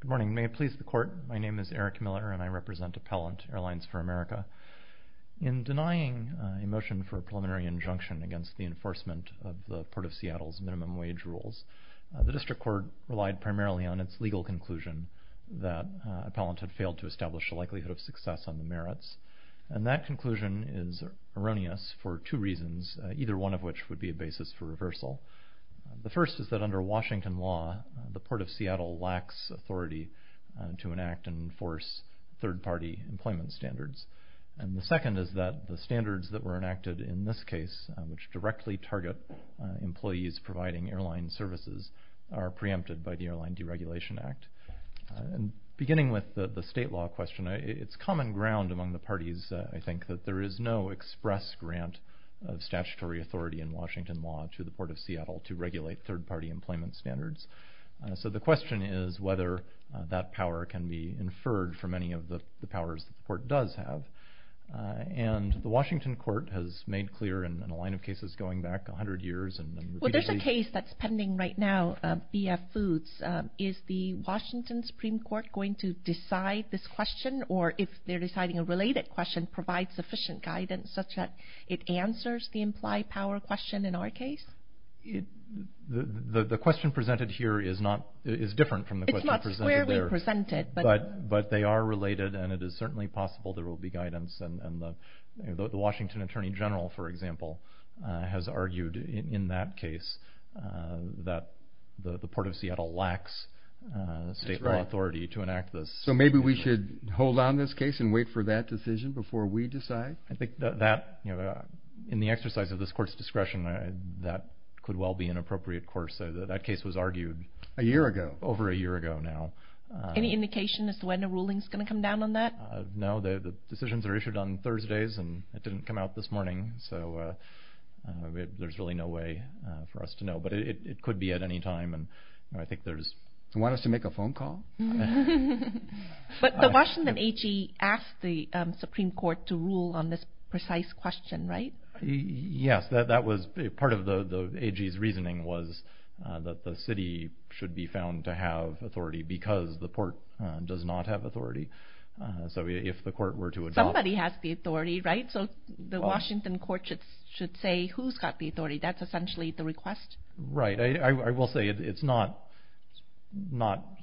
Good morning. May it please the Court, my name is Eric Miller and I represent Appellant Airlines for America. In denying a motion for a preliminary injunction against the enforcement of the Port of Seattle's minimum wage rules, the District Court relied primarily on its legal conclusion that Appellant had failed to establish a likelihood of success on the merits, and that conclusion is erroneous for two reasons, either one of which would be a basis for reversal. The first is that under Washington law, the Port of Seattle lacks authority to enact and enforce third-party employment standards. And the second is that the standards that were enacted in this case, which directly target employees providing airline services, are preempted by the Airline Deregulation Act. Beginning with the state law question, it's common ground among the parties, I think, that there is no express grant of statutory authority in Washington law to the Port of Seattle to regulate third-party employment standards. So the question is whether that power can be inferred from any of the powers that the Court does have. And the Washington Court has made clear in a line of cases going back a hundred years and repeatedly... Well there's a case that's pending right now, B.F. Foods. Is the Washington Supreme Court going to decide this question, or if they're deciding a related question, provide sufficient guidance such that it answers the implied power question in our case? The question presented here is different from the question presented there. It's not squarely presented. But they are related, and it is certainly possible there will be guidance. And the Washington Attorney General, for example, has argued in that case that the Port of Seattle lacks state law authority to enact this. So maybe we should hold on this case and wait for that decision before we decide? I think that, in the exercise of this Court's discretion, that could well be an appropriate course. That case was argued... A year ago. Over a year ago now. Any indication as to when a ruling's going to come down on that? No, the decisions are issued on Thursdays, and it didn't come out this morning. So there's really no way for us to know. But it could be at any time, and I think there's... Want us to ask the Supreme Court to rule on this precise question, right? Yes. Part of the AG's reasoning was that the city should be found to have authority because the port does not have authority. So if the court were to adopt... Somebody has the authority, right? So the Washington Court should say who's got the authority. That's essentially the request? Right. I will say it's not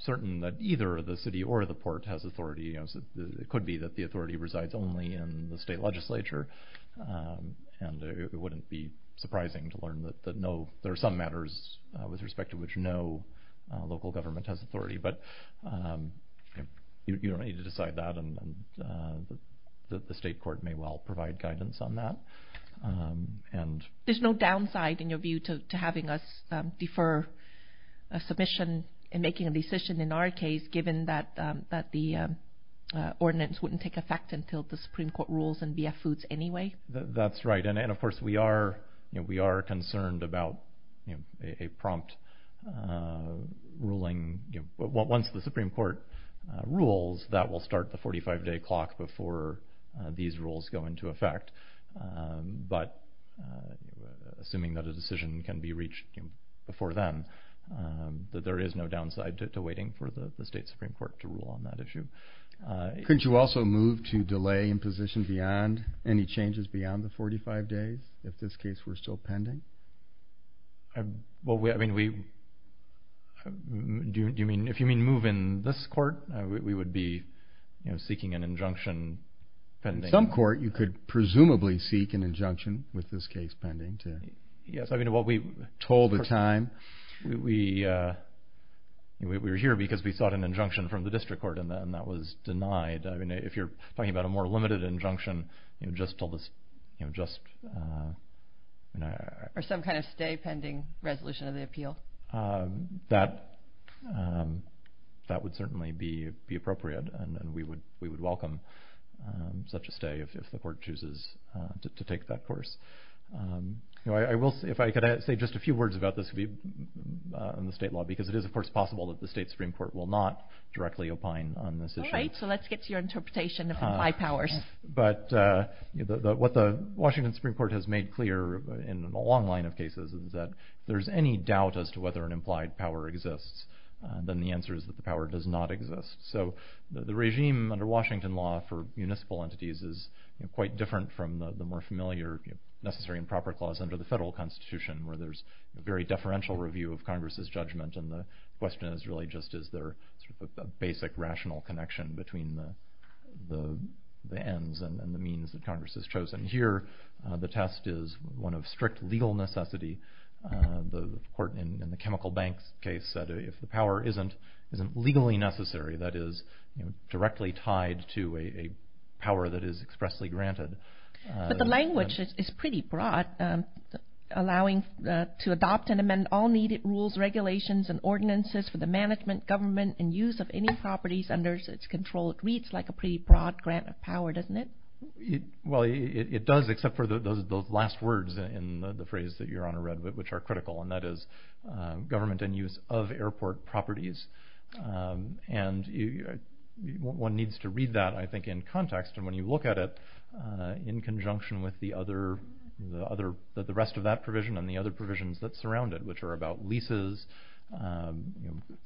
certain that either the city or the port has authority. It could be that the authority resides only in the state legislature, and it wouldn't be surprising to learn that no... There are some matters with respect to which no local government has authority, but you don't need to decide that, and the state court may well provide guidance on that. There's no downside, in your view, to having us defer a submission and making a decision in our case, given that the ordinance wouldn't take effect until the Supreme Court rules and BF foods anyway? That's right. And of course, we are concerned about a prompt ruling. Once the Supreme Court rules, that will start the 45-day clock before these rules go into effect. But assuming that a decision can be reached before then, that there is no downside to waiting for the state Supreme Court to rule on that issue. Couldn't you also move to delay imposition beyond any changes beyond the 45 days, if this case were still pending? If you mean move in this court, we would be seeking an injunction pending. In some court, you could presumably seek an injunction, with this case pending, to... Yes. I mean, what we were told at the time, we were here because we sought an injunction from the district court, and that was denied. I mean, if you're talking about a more limited injunction, just till this... Or some kind of stay pending resolution of the appeal. That would certainly be appropriate, and we would welcome such a stay if the court chooses to take that course. If I could say just a few words about this on the state law, because it is of course possible that the state Supreme Court will not directly opine on this issue. All right, so let's get to your interpretation of implied powers. What the Washington Supreme Court has made clear in a long line of cases is that if there's any doubt as to whether an implied power exists, then the answer is that the power does not exist. So the regime under Washington law for municipal entities is quite different from the more familiar necessary and proper clause under the federal constitution, where there's a very deferential review of Congress's judgment, and the question is really just is there a basic rational connection between the ends and the means that Congress has chosen. Here, the test is one of strict legal necessity. The court in the chemical banks case said if the power isn't legally necessary, that is directly tied to a power that is expressly granted. But the language is pretty broad, allowing to adopt and amend all needed rules, regulations, and ordinances for the management, government, and use of any properties under its control. It reads like a pretty broad grant of power, doesn't it? Well, it does, except for those last words in the phrase that Your Honor read, which are critical, and that is government and use of airport properties. And one needs to read that, I think, in context, and when you look at it in conjunction with the rest of that provision and the other provisions that surround it, which are about leases,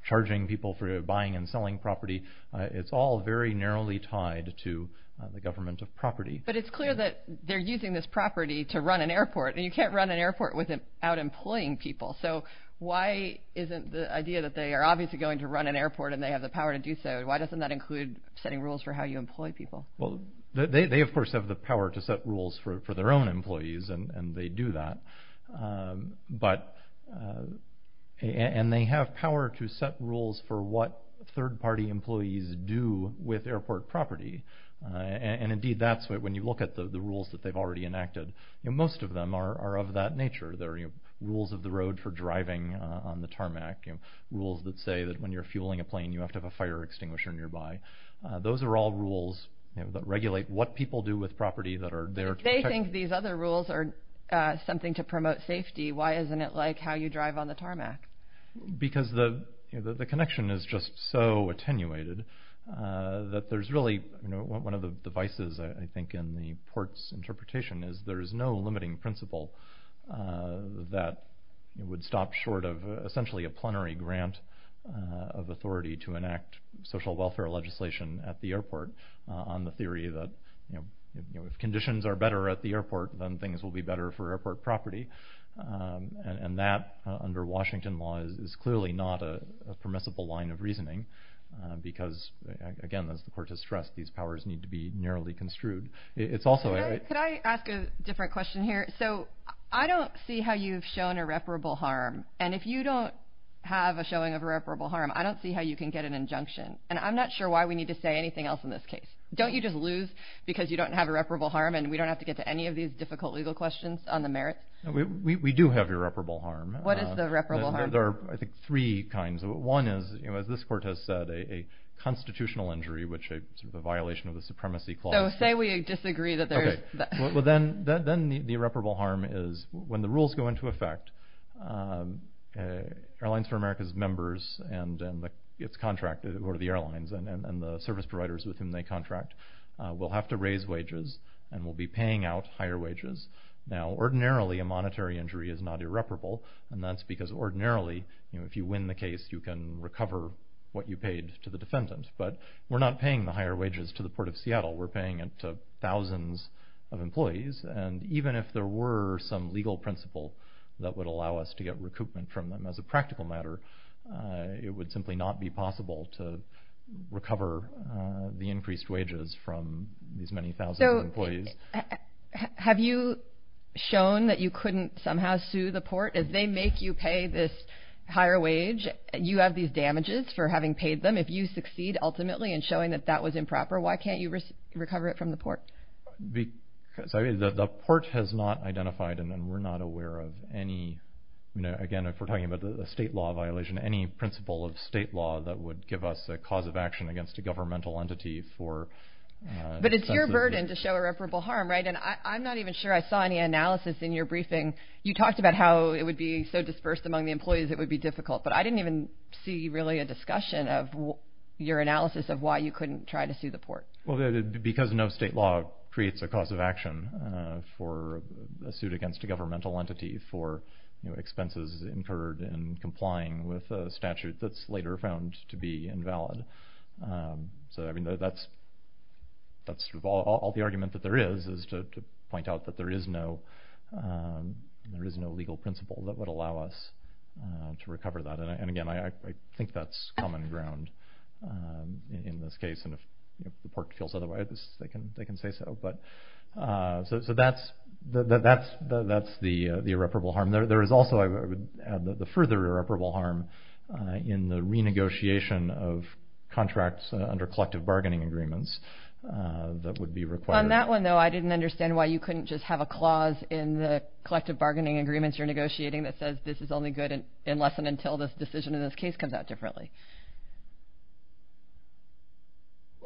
charging people for buying and selling property, it's all very narrowly tied to the government of property. But it's clear that they're using this property to run an airport, and you can't run an airport without employing people. So why isn't the idea that they are obviously going to run an airport and they have the power to do so, why doesn't that include setting rules for how you employ people? Well, they of course have the power to set rules for their own employees, and they do that. And they have power to set rules for what third-party employees do with airport property. And indeed, that's when you look at the rules that they've already enacted, most of them are of that nature. They're rules of the road for driving on the tarmac, rules that say that when you're fueling a plane, you have to have a fire extinguisher nearby. Those are all rules that regulate what people do with property that are there to protect... But if they think these other rules are something to promote safety, why isn't it like how you drive on the tarmac? Because the connection is just so attenuated that there's really... One of the devices, I think, in the port's interpretation is there is no limiting principle that would stop short of essentially a plenary grant of authority to enact social welfare legislation at the airport on the theory that if conditions are better at the airport, then things will be better for airport property. And that, under Washington law, is clearly not a permissible line of reasoning because, again, as the court has stressed, these powers need to be narrowly construed. Could I ask a different question here? So I don't see how you've shown irreparable harm. And if you don't have a showing of irreparable harm, I don't see how you can get an injunction. And I'm not sure why we need to say anything else in this case. Don't you just lose because you don't have irreparable harm and we don't have to get to any of these difficult legal questions on the merits? We do have irreparable harm. What is the irreparable harm? There are, I think, three kinds. One is, as this court has said, a constitutional injury which is a violation of the supremacy clause. So say we disagree that there is... Then the irreparable harm is when the rules go into effect, Airlines for America's members and its contract, or the airlines and the service providers with whom they contract, will have to raise wages and will be paying out higher wages. Now ordinarily, a monetary injury is not irreparable. And that's because ordinarily, if you win the case, you can recover what you paid to the defendant. But we're not paying the higher wages of employees. And even if there were some legal principle that would allow us to get recoupment from them as a practical matter, it would simply not be possible to recover the increased wages from these many thousands of employees. Have you shown that you couldn't somehow sue the court? If they make you pay this higher wage, you have these damages for having paid them. If you succeed ultimately in showing that that was improper, why can't you recover it from the court? Because the court has not identified, and we're not aware of any... Again, if we're talking about a state law violation, any principle of state law that would give us a cause of action against a governmental entity for... But it's your burden to show irreparable harm, right? And I'm not even sure I saw any analysis in your briefing. You talked about how it would be so dispersed among the employees it would be difficult. But I didn't even see really a discussion of your analysis of why you couldn't try to sue the court. Well, because no state law creates a cause of action for a suit against a governmental entity for expenses incurred in complying with a statute that's later found to be invalid. So, I mean, that's all the argument that there is, is to point out that there is no legal principle that would allow us to recover that. And again, I think that's common ground in this case. And if the court feels otherwise, they can say so. But so that's the irreparable harm. There is also, I would add, the further irreparable harm in the renegotiation of contracts under collective bargaining agreements that would be required. On that one, though, I didn't understand why you couldn't just have a clause in the collective bargaining agreements you're negotiating that says this is only good unless and until this decision in this case comes out differently.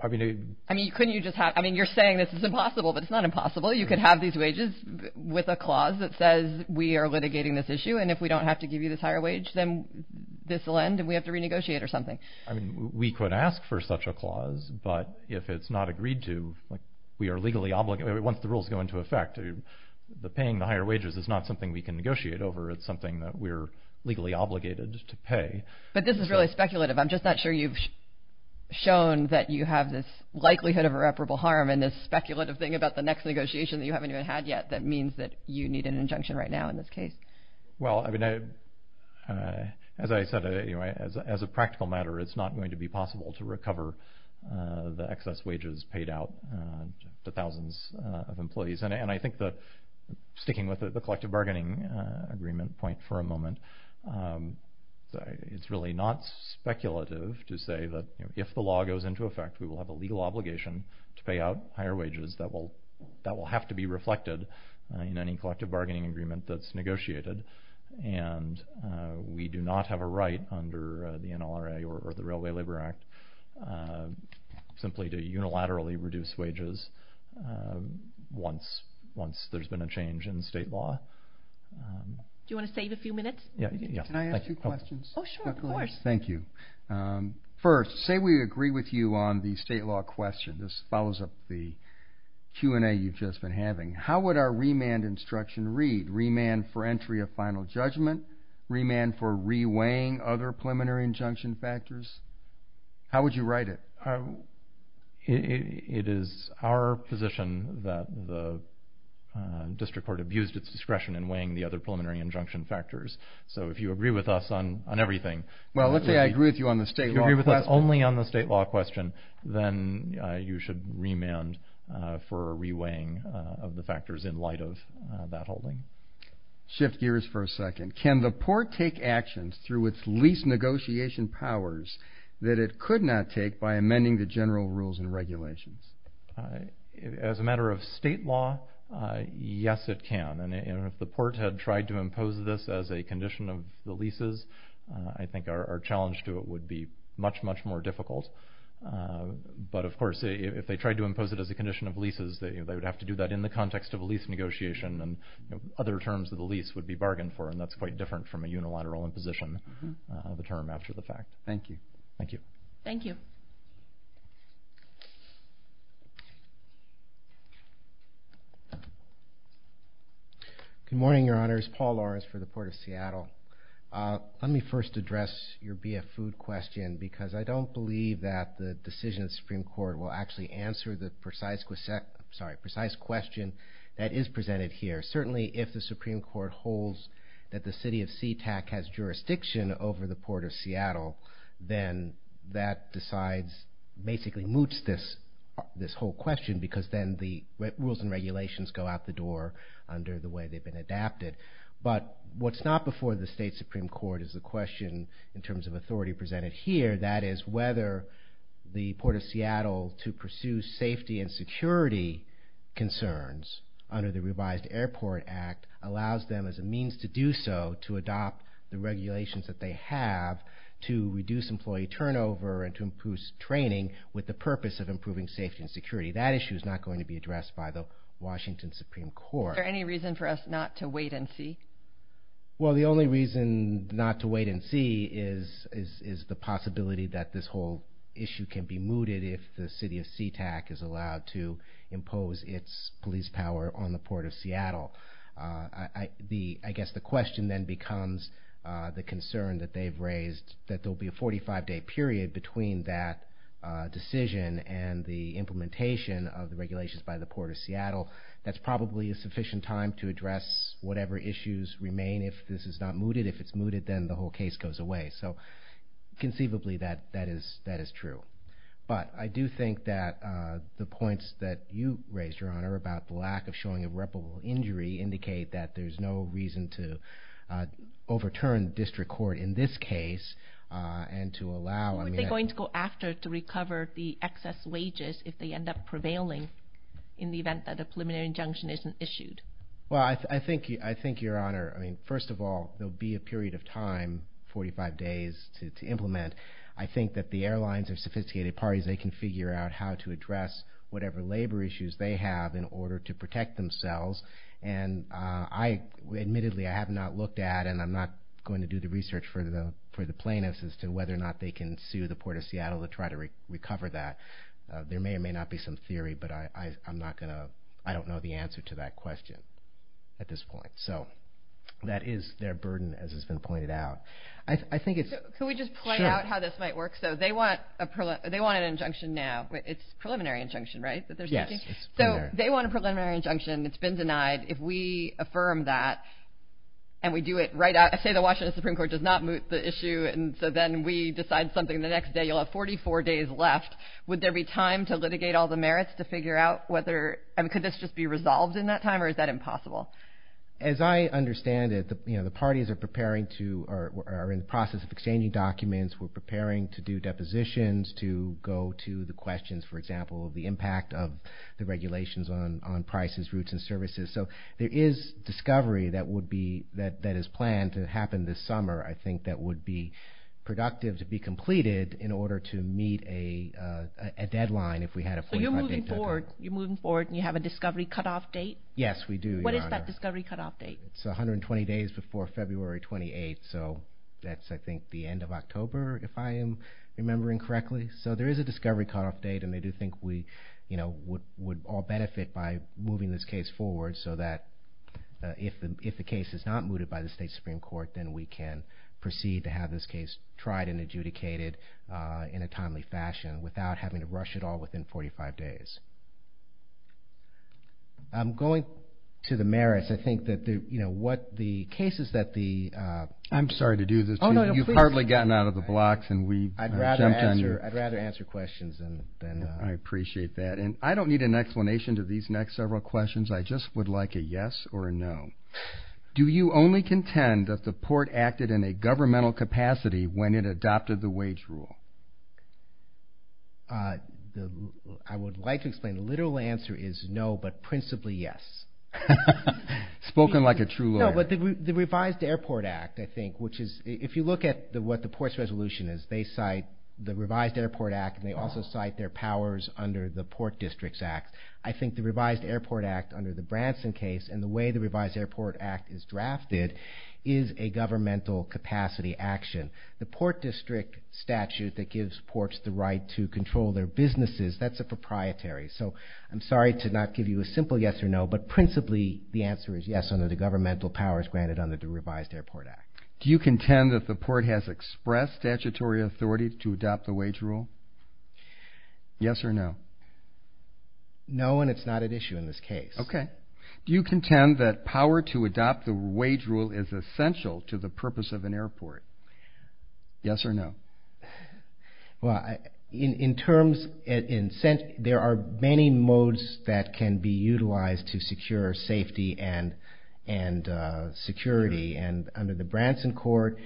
I mean, couldn't you just have, I mean, you're saying this is impossible, but it's not impossible. You could have these wages with a clause that says we are litigating this issue. And if we don't have to give you this higher wage, then this will end and we have to renegotiate or something. I mean, we could ask for such a clause, but if it's not agreed to, like we are legally obligated, once the rules go into effect, the paying the higher wages is not something we can negotiate over. It's something that we're legally obligated to pay. But this is really speculative. I'm just not sure you've shown that you have this likelihood of irreparable harm in this speculative thing about the next negotiation that you haven't even had yet that means that you need an injunction right now in this case. Well, I mean, as I said, as a practical matter, it's not going to be possible to recover the excess wages paid out to thousands of employees. And I think sticking with the collective bargaining agreement point for a moment, it's really not speculative to say that if the law goes into effect, we will have a legal obligation to pay out higher wages that will have to be reflected in any collective bargaining agreement that's negotiated. And we do not have a right under the NLRA or the Railway Labor Act simply to unilaterally reduce wages once there's been a change in state law. Do you want to save a few minutes? Can I ask you questions? Oh, sure, of course. Thank you. First, say we agree with you on the state law question. This follows up the Q&A you've just been having. How would our remand instruction read? Remand for entry of final judgment, remand for reweighing other preliminary injunction factors? How would you write it? It is our position that the district court abused its discretion in weighing the other preliminary injunction factors. So if you agree with us on everything. Well, let's say I agree with you on the state law question. If you agree with us only on the state law question, then you should remand for reweighing of the factors in light of that holding. Shift gears for a second. Can the port take actions through its lease negotiation powers that it could not take by amending the general rules and regulations? As a matter of state law, yes, it can. And if the port had tried to impose this as a condition of the leases, I think our challenge to it would be much, much more difficult. But, of course, if they tried to impose it as a condition of leases, they would have to do that in the context of a lease negotiation. And other terms of the lease would be bargained for. And that's quite different from a unilateral imposition of the term after the fact. Thank you. Thank you. Thank you. Good morning, Your Honors. Paul Loris for the Port of Seattle. Let me first address your BF food question because I don't believe that the decision of the Supreme Court will actually answer the precise question that is presented here. Certainly, if the Supreme Court holds that the city of Sea-Tac has jurisdiction over the Port of Seattle, then that decides, basically moots this whole question because then the rules and regulations go out the door under the way they've been adapted. But what's not before the state Supreme Court is the question in terms of authority presented here, that is whether the Port of Seattle to pursue safety and security concerns under the revised Airport Act allows them as a means to do so to adopt the regulations that they have to reduce employee turnover and to improve training with the purpose of improving safety and security. That issue is not going to be addressed by the Washington Supreme Court. Is there any reason for us not to wait and see? Well, the only reason not to wait and see is the possibility that this whole issue can be mooted if the city of Sea-Tac is allowed to impose its police power on the Port of Seattle. I guess the question then becomes the concern that they've raised that there'll be a 45-day period between that decision and the implementation of the regulations by the Port of Seattle. That's probably a sufficient time to address whatever issues remain if this is not mooted. If it's mooted, then the whole case goes away. So conceivably, that is true. But the concerns that we hear about the lack of showing a reputable injury indicate that there's no reason to overturn district court in this case and to allow... What are they going to go after to recover the excess wages if they end up prevailing in the event that a preliminary injunction isn't issued? Well, I think, Your Honor, first of all, there'll be a period of time, 45 days, to implement. I think that the airlines and sophisticated parties, they can figure out how to address whatever labor issues they have in order to protect themselves. And I, admittedly, I have not looked at, and I'm not going to do the research for the plaintiffs as to whether or not they can sue the Port of Seattle to try to recover that. There may or may not be some theory, but I'm not going to... I don't know the answer to that question at this point. So that is their burden, as has been pointed out. I think it's... Can we just point out how this might work? So they want an injunction now. It's a preliminary injunction, right, that they're seeking? Yes, it's preliminary. So they want a preliminary injunction. It's been denied. If we affirm that and we do it right out... Say the Washington Supreme Court does not moot the issue, and so then we decide something the next day. You'll have 44 days left. Would there be time to litigate all the merits to figure out whether... I mean, could this just be resolved in that time, or is that impossible? As I understand it, you know, the parties are preparing to... are in the process of exchanging documents. We're preparing to do depositions, to go to the questions, for example, of the impact of the regulations on prices, routes, and services. So there is discovery that would be... that is planned to happen this summer. I think that would be productive to be completed in order to meet a deadline if we had a 45-day deadline. So you're moving forward. You're moving forward and you have a discovery cutoff date? Yes, we do, Your Honor. What is that discovery cutoff date? It's 120 days before February 28th. So that's, I think, the end of October, if I am remembering correctly. So there is a discovery cutoff date, and I do think we would all benefit by moving this case forward so that if the case is not mooted by the state Supreme Court, then we can proceed to have this case tried and adjudicated in a timely fashion without having to rush it all within 45 days. I'm going to the merits. I think that, you know, what the cases that the... I'm sorry to do this to you. You've hardly gotten out of the blocks and we've... I'd rather answer questions than... I appreciate that. And I don't need an explanation to these next several questions. I just would like a yes or a no. Do you only contend that the port acted in a governmental capacity when it adopted the wage rule? I would like to explain. The literal answer is no, but principally yes. Spoken like a true lawyer. No, but the revised Airport Act, I think, which is if you look at what the port's resolution is, they cite the revised Airport Act, and they also cite their powers under the Port Districts Act. I think the revised Airport Act under the Branson case and the way the revised Airport Act is drafted is a governmental capacity action. The Port District statute that gives ports the right to control their businesses, that's a proprietary. So I'm sorry to not give you a simple yes or no, but principally the answer is yes under the governmental powers granted under the revised Airport Act. Do you contend that the port has expressed statutory authority to adopt the wage rule? Yes or no? No, and it's not at issue in this case. OK. Do you contend that power to adopt the wage rule is essential to the purpose of an airport? Yes or no? Well, in terms... There are many modes that can be utilized to secure safety and security, and under the Branson court,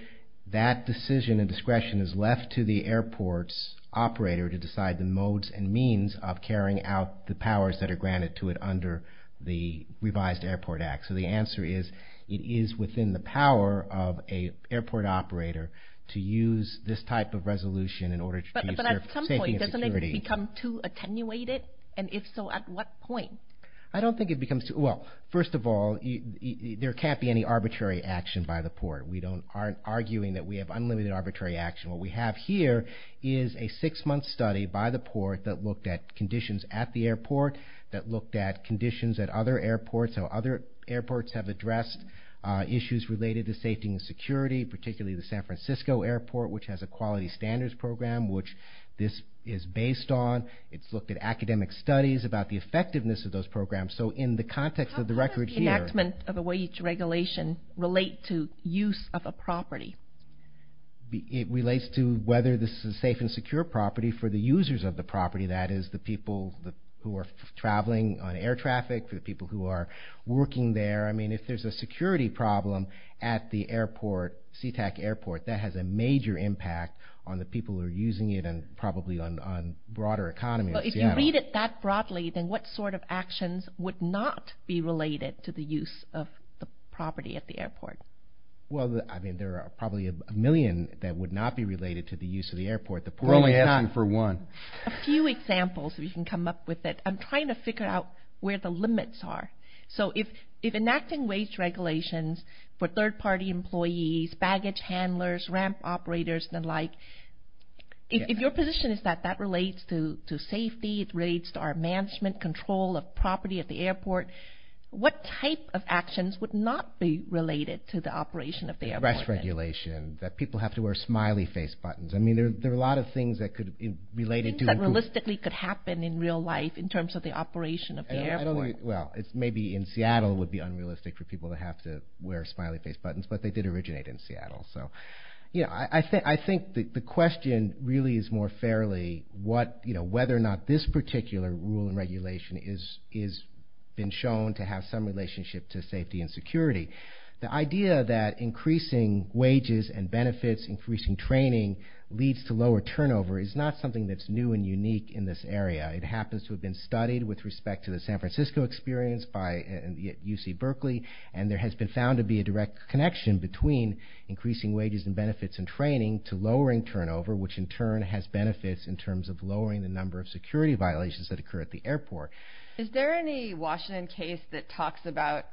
that decision and discretion is left to the airport's operator to decide the modes and means of carrying out the powers that are granted to it under the revised Airport Act. So the answer is it is within the power of a airport operator to use this type of resolution in order to secure safety and security. Has it become too attenuated, and if so, at what point? I don't think it becomes too... Well, first of all, there can't be any arbitrary action by the port. We aren't arguing that we have unlimited arbitrary action. What we have here is a six-month study by the port that looked at conditions at the airport, that looked at conditions at other airports, how other airports have addressed issues related to safety and security, particularly the San Francisco airport, which has a quality standards program, which this is based on. It's looked at academic studies about the effectiveness of those programs. So in the context of the record here... How does the enactment of a wage regulation relate to use of a property? It relates to whether this is a safe and secure property for the users of the property, that is, the people who are traveling on air traffic, the people who are working there. I mean, if there's a security problem at the airport, Sea-Tac airport, that has a major impact on the people who are using it and probably on broader economies. But if you read it that broadly, then what sort of actions would not be related to the use of the property at the airport? Well, I mean, there are probably a million that would not be related to the use of the airport. We're only asking for one. A few examples, if you can come up with it. I'm trying to figure out where the limits are. So if enacting wage regulations for third-party employees, baggage handlers, ramp operators and the like, if your position is that that relates to safety, it relates to our management control of property at the airport, what type of actions would not be related to the operation of the airport? Arrest regulation, that people have to wear smiley face buttons. I mean, there are a lot of things that could be related to... Things that realistically could happen in real life in terms of the operation of the airport. Well, maybe in Seattle would be unrealistic for people to have to wear smiley face buttons, but they did originate in Seattle. So, yeah, I think the question really is more fairly whether or not this particular rule and regulation has been shown to have some relationship to safety and security. The idea that increasing wages and benefits, increasing training leads to lower turnover is not something that's new and unique in this area. It happens to have been studied with respect to the San Francisco experience by UC Berkeley, and there has been found to be a direct connection between increasing wages and benefits and training to lowering turnover, which in turn has benefits in terms of lowering the number of security violations that occur at the airport. Is there any Washington case that talks about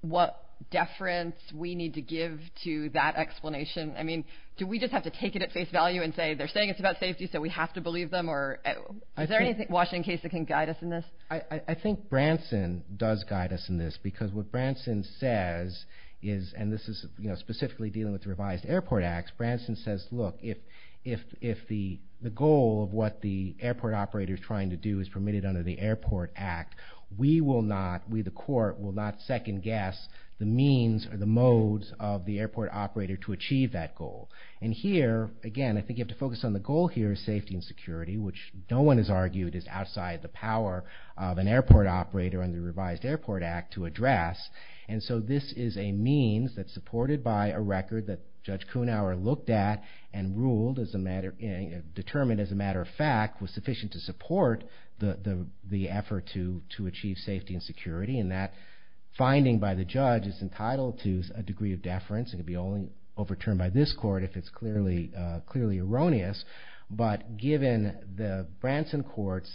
what deference we need to give to that explanation? I mean, do we just have to take it at face value and say, they're saying it's about safety, so we have to believe them? Is there any Washington case that can guide us in this? I think Branson does guide us in this, because what Branson says is, and this is specifically dealing with the revised airport acts, Branson says, look, if the goal of what the airport operator is trying to do is permitted under the airport act, we will not, we the court, will not second guess the means or the modes of the airport operator to achieve that goal. And here, again, I think you have to focus on the goal here of safety and security, which no one has argued is outside the power of an airport operator under the revised airport act to address. And so this is a means that's supported by a record that Judge Kuhnhauer looked at and ruled as a matter, determined as a matter of fact was sufficient to support the effort to achieve safety and security. And that finding by the judge is entitled to a degree of deference. It can be only overturned by this court if it's clearly erroneous. But given the Branson court's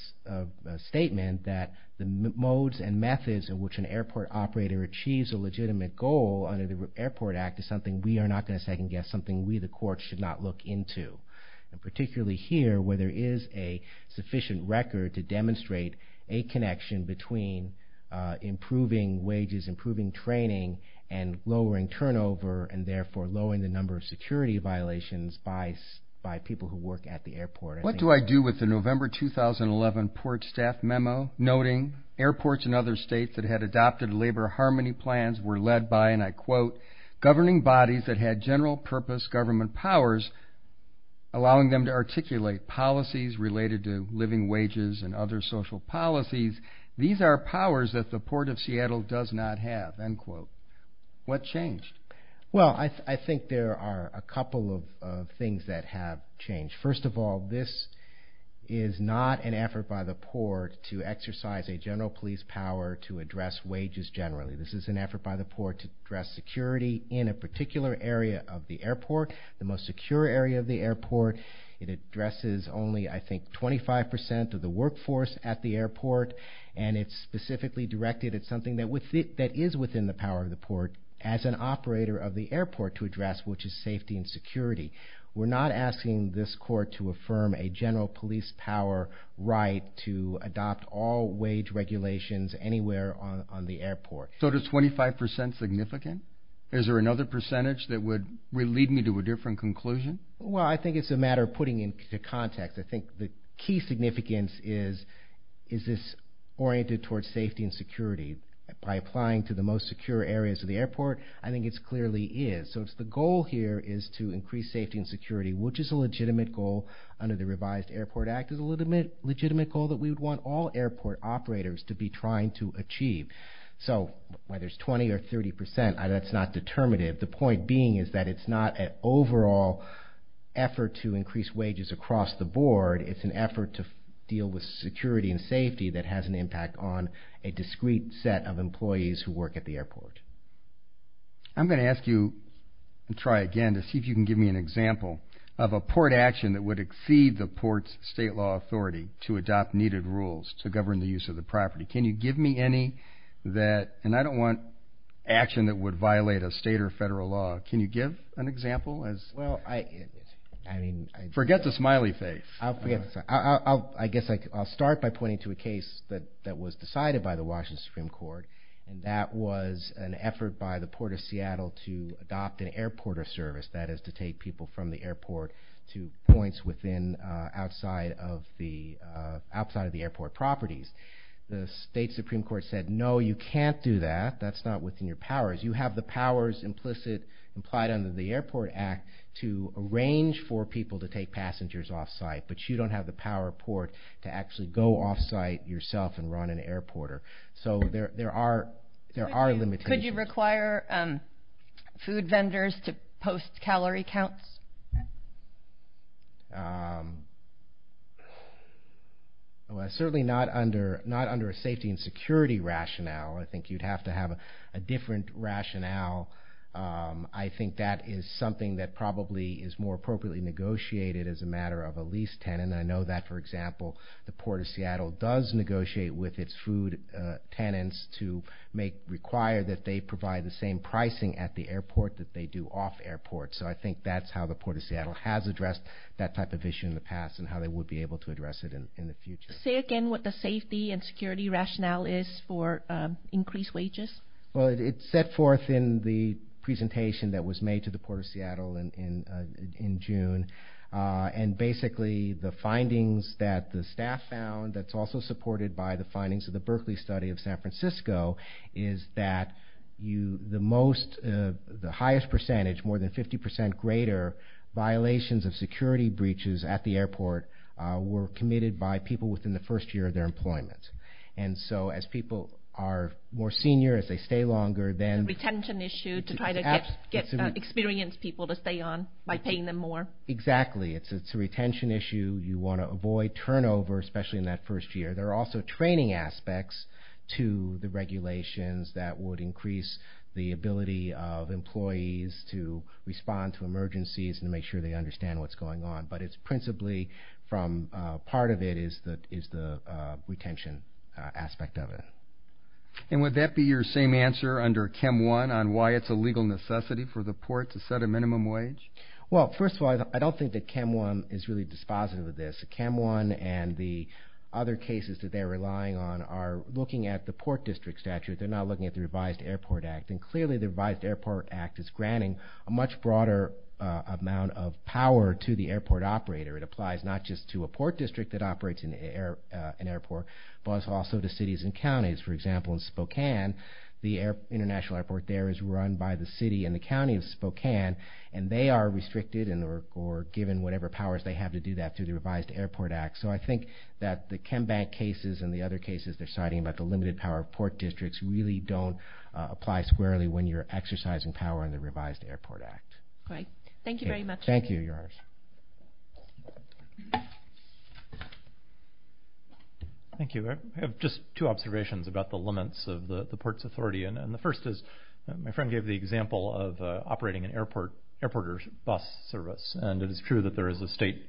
statement that the modes and methods in which an airport operator achieves a legitimate goal under the airport act is something we are not gonna second guess, something we the court should not look into. And particularly here, where there is a sufficient record to demonstrate a connection between improving wages, improving training, and lowering turnover, and therefore lowering the number of security violations by people who work at the airport. What do I do with the November 2011 port staff memo noting airports in other states that had adopted labor harmony plans were led by, and I quote, governing bodies that had general purpose government powers, allowing them to articulate policies related to living wages and other social policies. These are powers that the port of Seattle does not have. End quote. What changed? Well, I think there are a couple of things that have changed. First of all, this is not an effort by the port to exercise a general police power to address wages generally. This is an effort by the port to address security in a particular area of the airport, the most secure area of the airport. It addresses only, I think, 25% of the workforce at the airport, and it's specifically directed at something that is within the power of the port as an operator of the airport to address, which is safety and security. We're not asking this court to affirm a general police power right to adopt all wage regulations anywhere on the airport. So does 25% significant? Is there another percentage that would lead me to a different conclusion? Well, I think it's a matter of putting into context. I think the key significance is, is this oriented towards safety and security by applying to the most secure areas of the airport? I think it clearly is. So the goal here is to increase safety and security, which is a legitimate goal under the Revised Airport Act, is a legitimate goal that we would want all airport operators to be trying to achieve. So whether it's 20% or 30%, that's not determinative. The point being is that it's not an overall effort It's an effort to deal with security and safety that has an impact on a discreet set of employees who work at the airport. I'm gonna ask you, and try again, to see if you can give me an example of a port action that would exceed the port's state law authority to adopt needed rules to govern the use of the property. Can you give me any that, and I don't want action that would violate a state or federal law. Can you give an example as? Well, I mean. Forget the smiley face. I'll forget, I guess I'll start by pointing to a case that was decided by the Washington Supreme Court, and that was an effort by the Port of Seattle to adopt an airporter service, that is to take people from the airport to points outside of the airport properties. The state Supreme Court said, no, you can't do that. That's not within your powers. You have the powers implicit, implied under the Airport Act to arrange for people to take passengers off-site, but you don't have the power of port to actually go off-site yourself and run an airporter. So there are limitations. Could you require food vendors to post calorie counts? Well, certainly not under a safety and security rationale. I think you'd have to have a different rationale. I think that is something that probably is more appropriately negotiated as a matter of a lease tenant. I know that, for example, the Port of Seattle does negotiate with its food tenants to require that they provide the same pricing at the airport that they do off-airport. So I think that's how the Port of Seattle has addressed that type of issue in the past and how they would be able to address it in the future. Say again what the safety and security rationale is for increased wages? Well, it's set forth in the presentation that was made to the Port of Seattle in June. And basically the findings that the staff found that's also supported by the findings of the Berkeley study of San Francisco is that the highest percentage, more than 50% greater, violations of security breaches at the airport were committed by people within the first year of their employment. And so as people are more senior, as they stay longer, then... It's a retention issue to try to get experienced people to stay on by paying them more. Exactly. It's a retention issue. You want to avoid turnover, especially in that first year. There are also training aspects to the regulations that would increase the ability of employees to respond to emergencies and make sure they understand what's going on. But it's principally from part of it is the retention aspect of it. And would that be your same answer under CHEM I on why it's a legal necessity for the port to set a minimum wage? Well, first of all, I don't think that CHEM I is really dispositive of this. CHEM I and the other cases that they're relying on are looking at the port district statute. They're not looking at the revised airport act. And clearly the revised airport act is granting a much broader amount of power to the airport operator. It applies not just to a port district that operates in an airport, but also to cities and counties. For example, in Spokane, the international airport there is run by the city and the county of Spokane. And they are restricted or given whatever powers they have to do that through the revised airport act. So I think that the CHEM Bank cases and the other cases they're citing about the limited power of port districts really don't apply squarely when you're exercising power in the revised airport act. Great. Thank you very much. Thank you, Your Honor. Thank you. I have just two observations about the limits of the port's authority. And the first is my friend gave the example of operating an airport bus service. And it is true that there is a state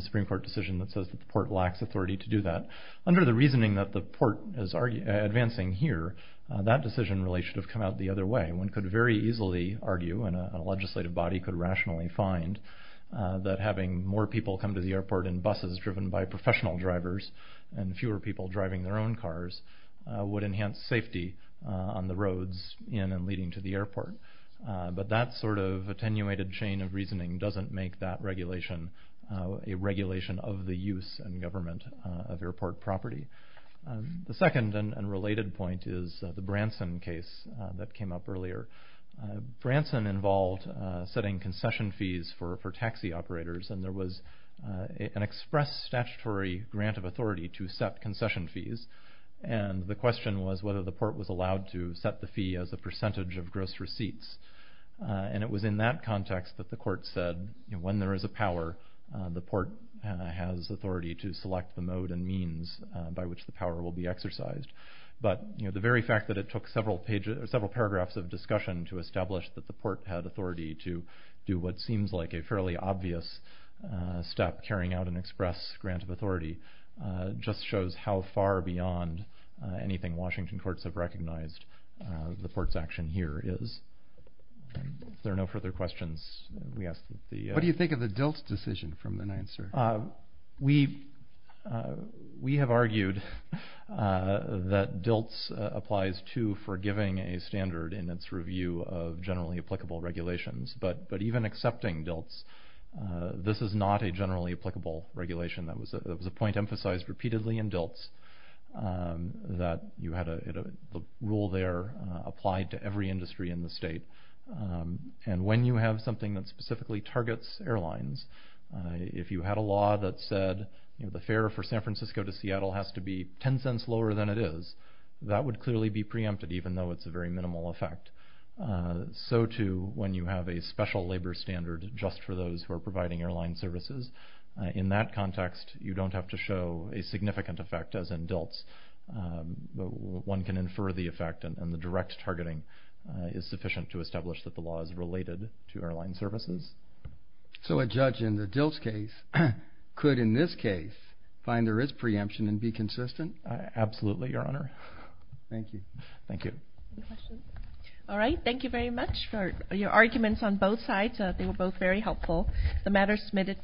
Supreme Court decision that says that the port lacks authority to do that. Under the reasoning that the port is advancing here, that decision really should have come out the other way. One could very easily argue, and a legislative body could rationally find, that having more people come to the airport in buses driven by professional drivers and fewer people driving their own cars would enhance safety on the roads in and leading to the airport. But that sort of attenuated chain of reasoning doesn't make that regulation a regulation of the use and government of airport property. The second and related point is the Branson case that came up earlier. Branson involved setting concession fees for taxi operators. And there was an express statutory grant of authority to set concession fees. And the question was whether the port was allowed to set the fee as a percentage of gross receipts. And it was in that context that the court said, when there is a power, the port has authority to select the mode and means by which the power will be exercised. But the very fact that it took several paragraphs of discussion to establish that the port had authority to do what seems like a fairly obvious step carrying out an express grant of authority just shows how far beyond anything Washington courts have recognized the port's action here is. There are no further questions. We ask that the- What do you think of the DILT decision from the nine, sir? We have argued that DILT applies to forgiving a standard in its review of generally applicable regulations. But even accepting DILT's, this is not a generally applicable regulation. That was a point emphasized repeatedly in DILT's that you had a rule there applied to every industry in the state. And when you have something that specifically targets airlines, if you had a law that said, you know, the fare for San Francisco to Seattle has to be 10 cents lower than it is, that would clearly be preempted even though it's a very minimal effect. So too, when you have a special labor standard just for those who are providing airline services, in that context, you don't have to show a significant effect as in DILT's. One can infer the effect and the direct targeting is sufficient to establish that the law is related to airline services. So a judge in the DILT's case could in this case find there is preemption and be consistent? Absolutely, your honor. Thank you. Any questions? All right, thank you very much for your arguments on both sides. They were both very helpful. The matter is submitted for.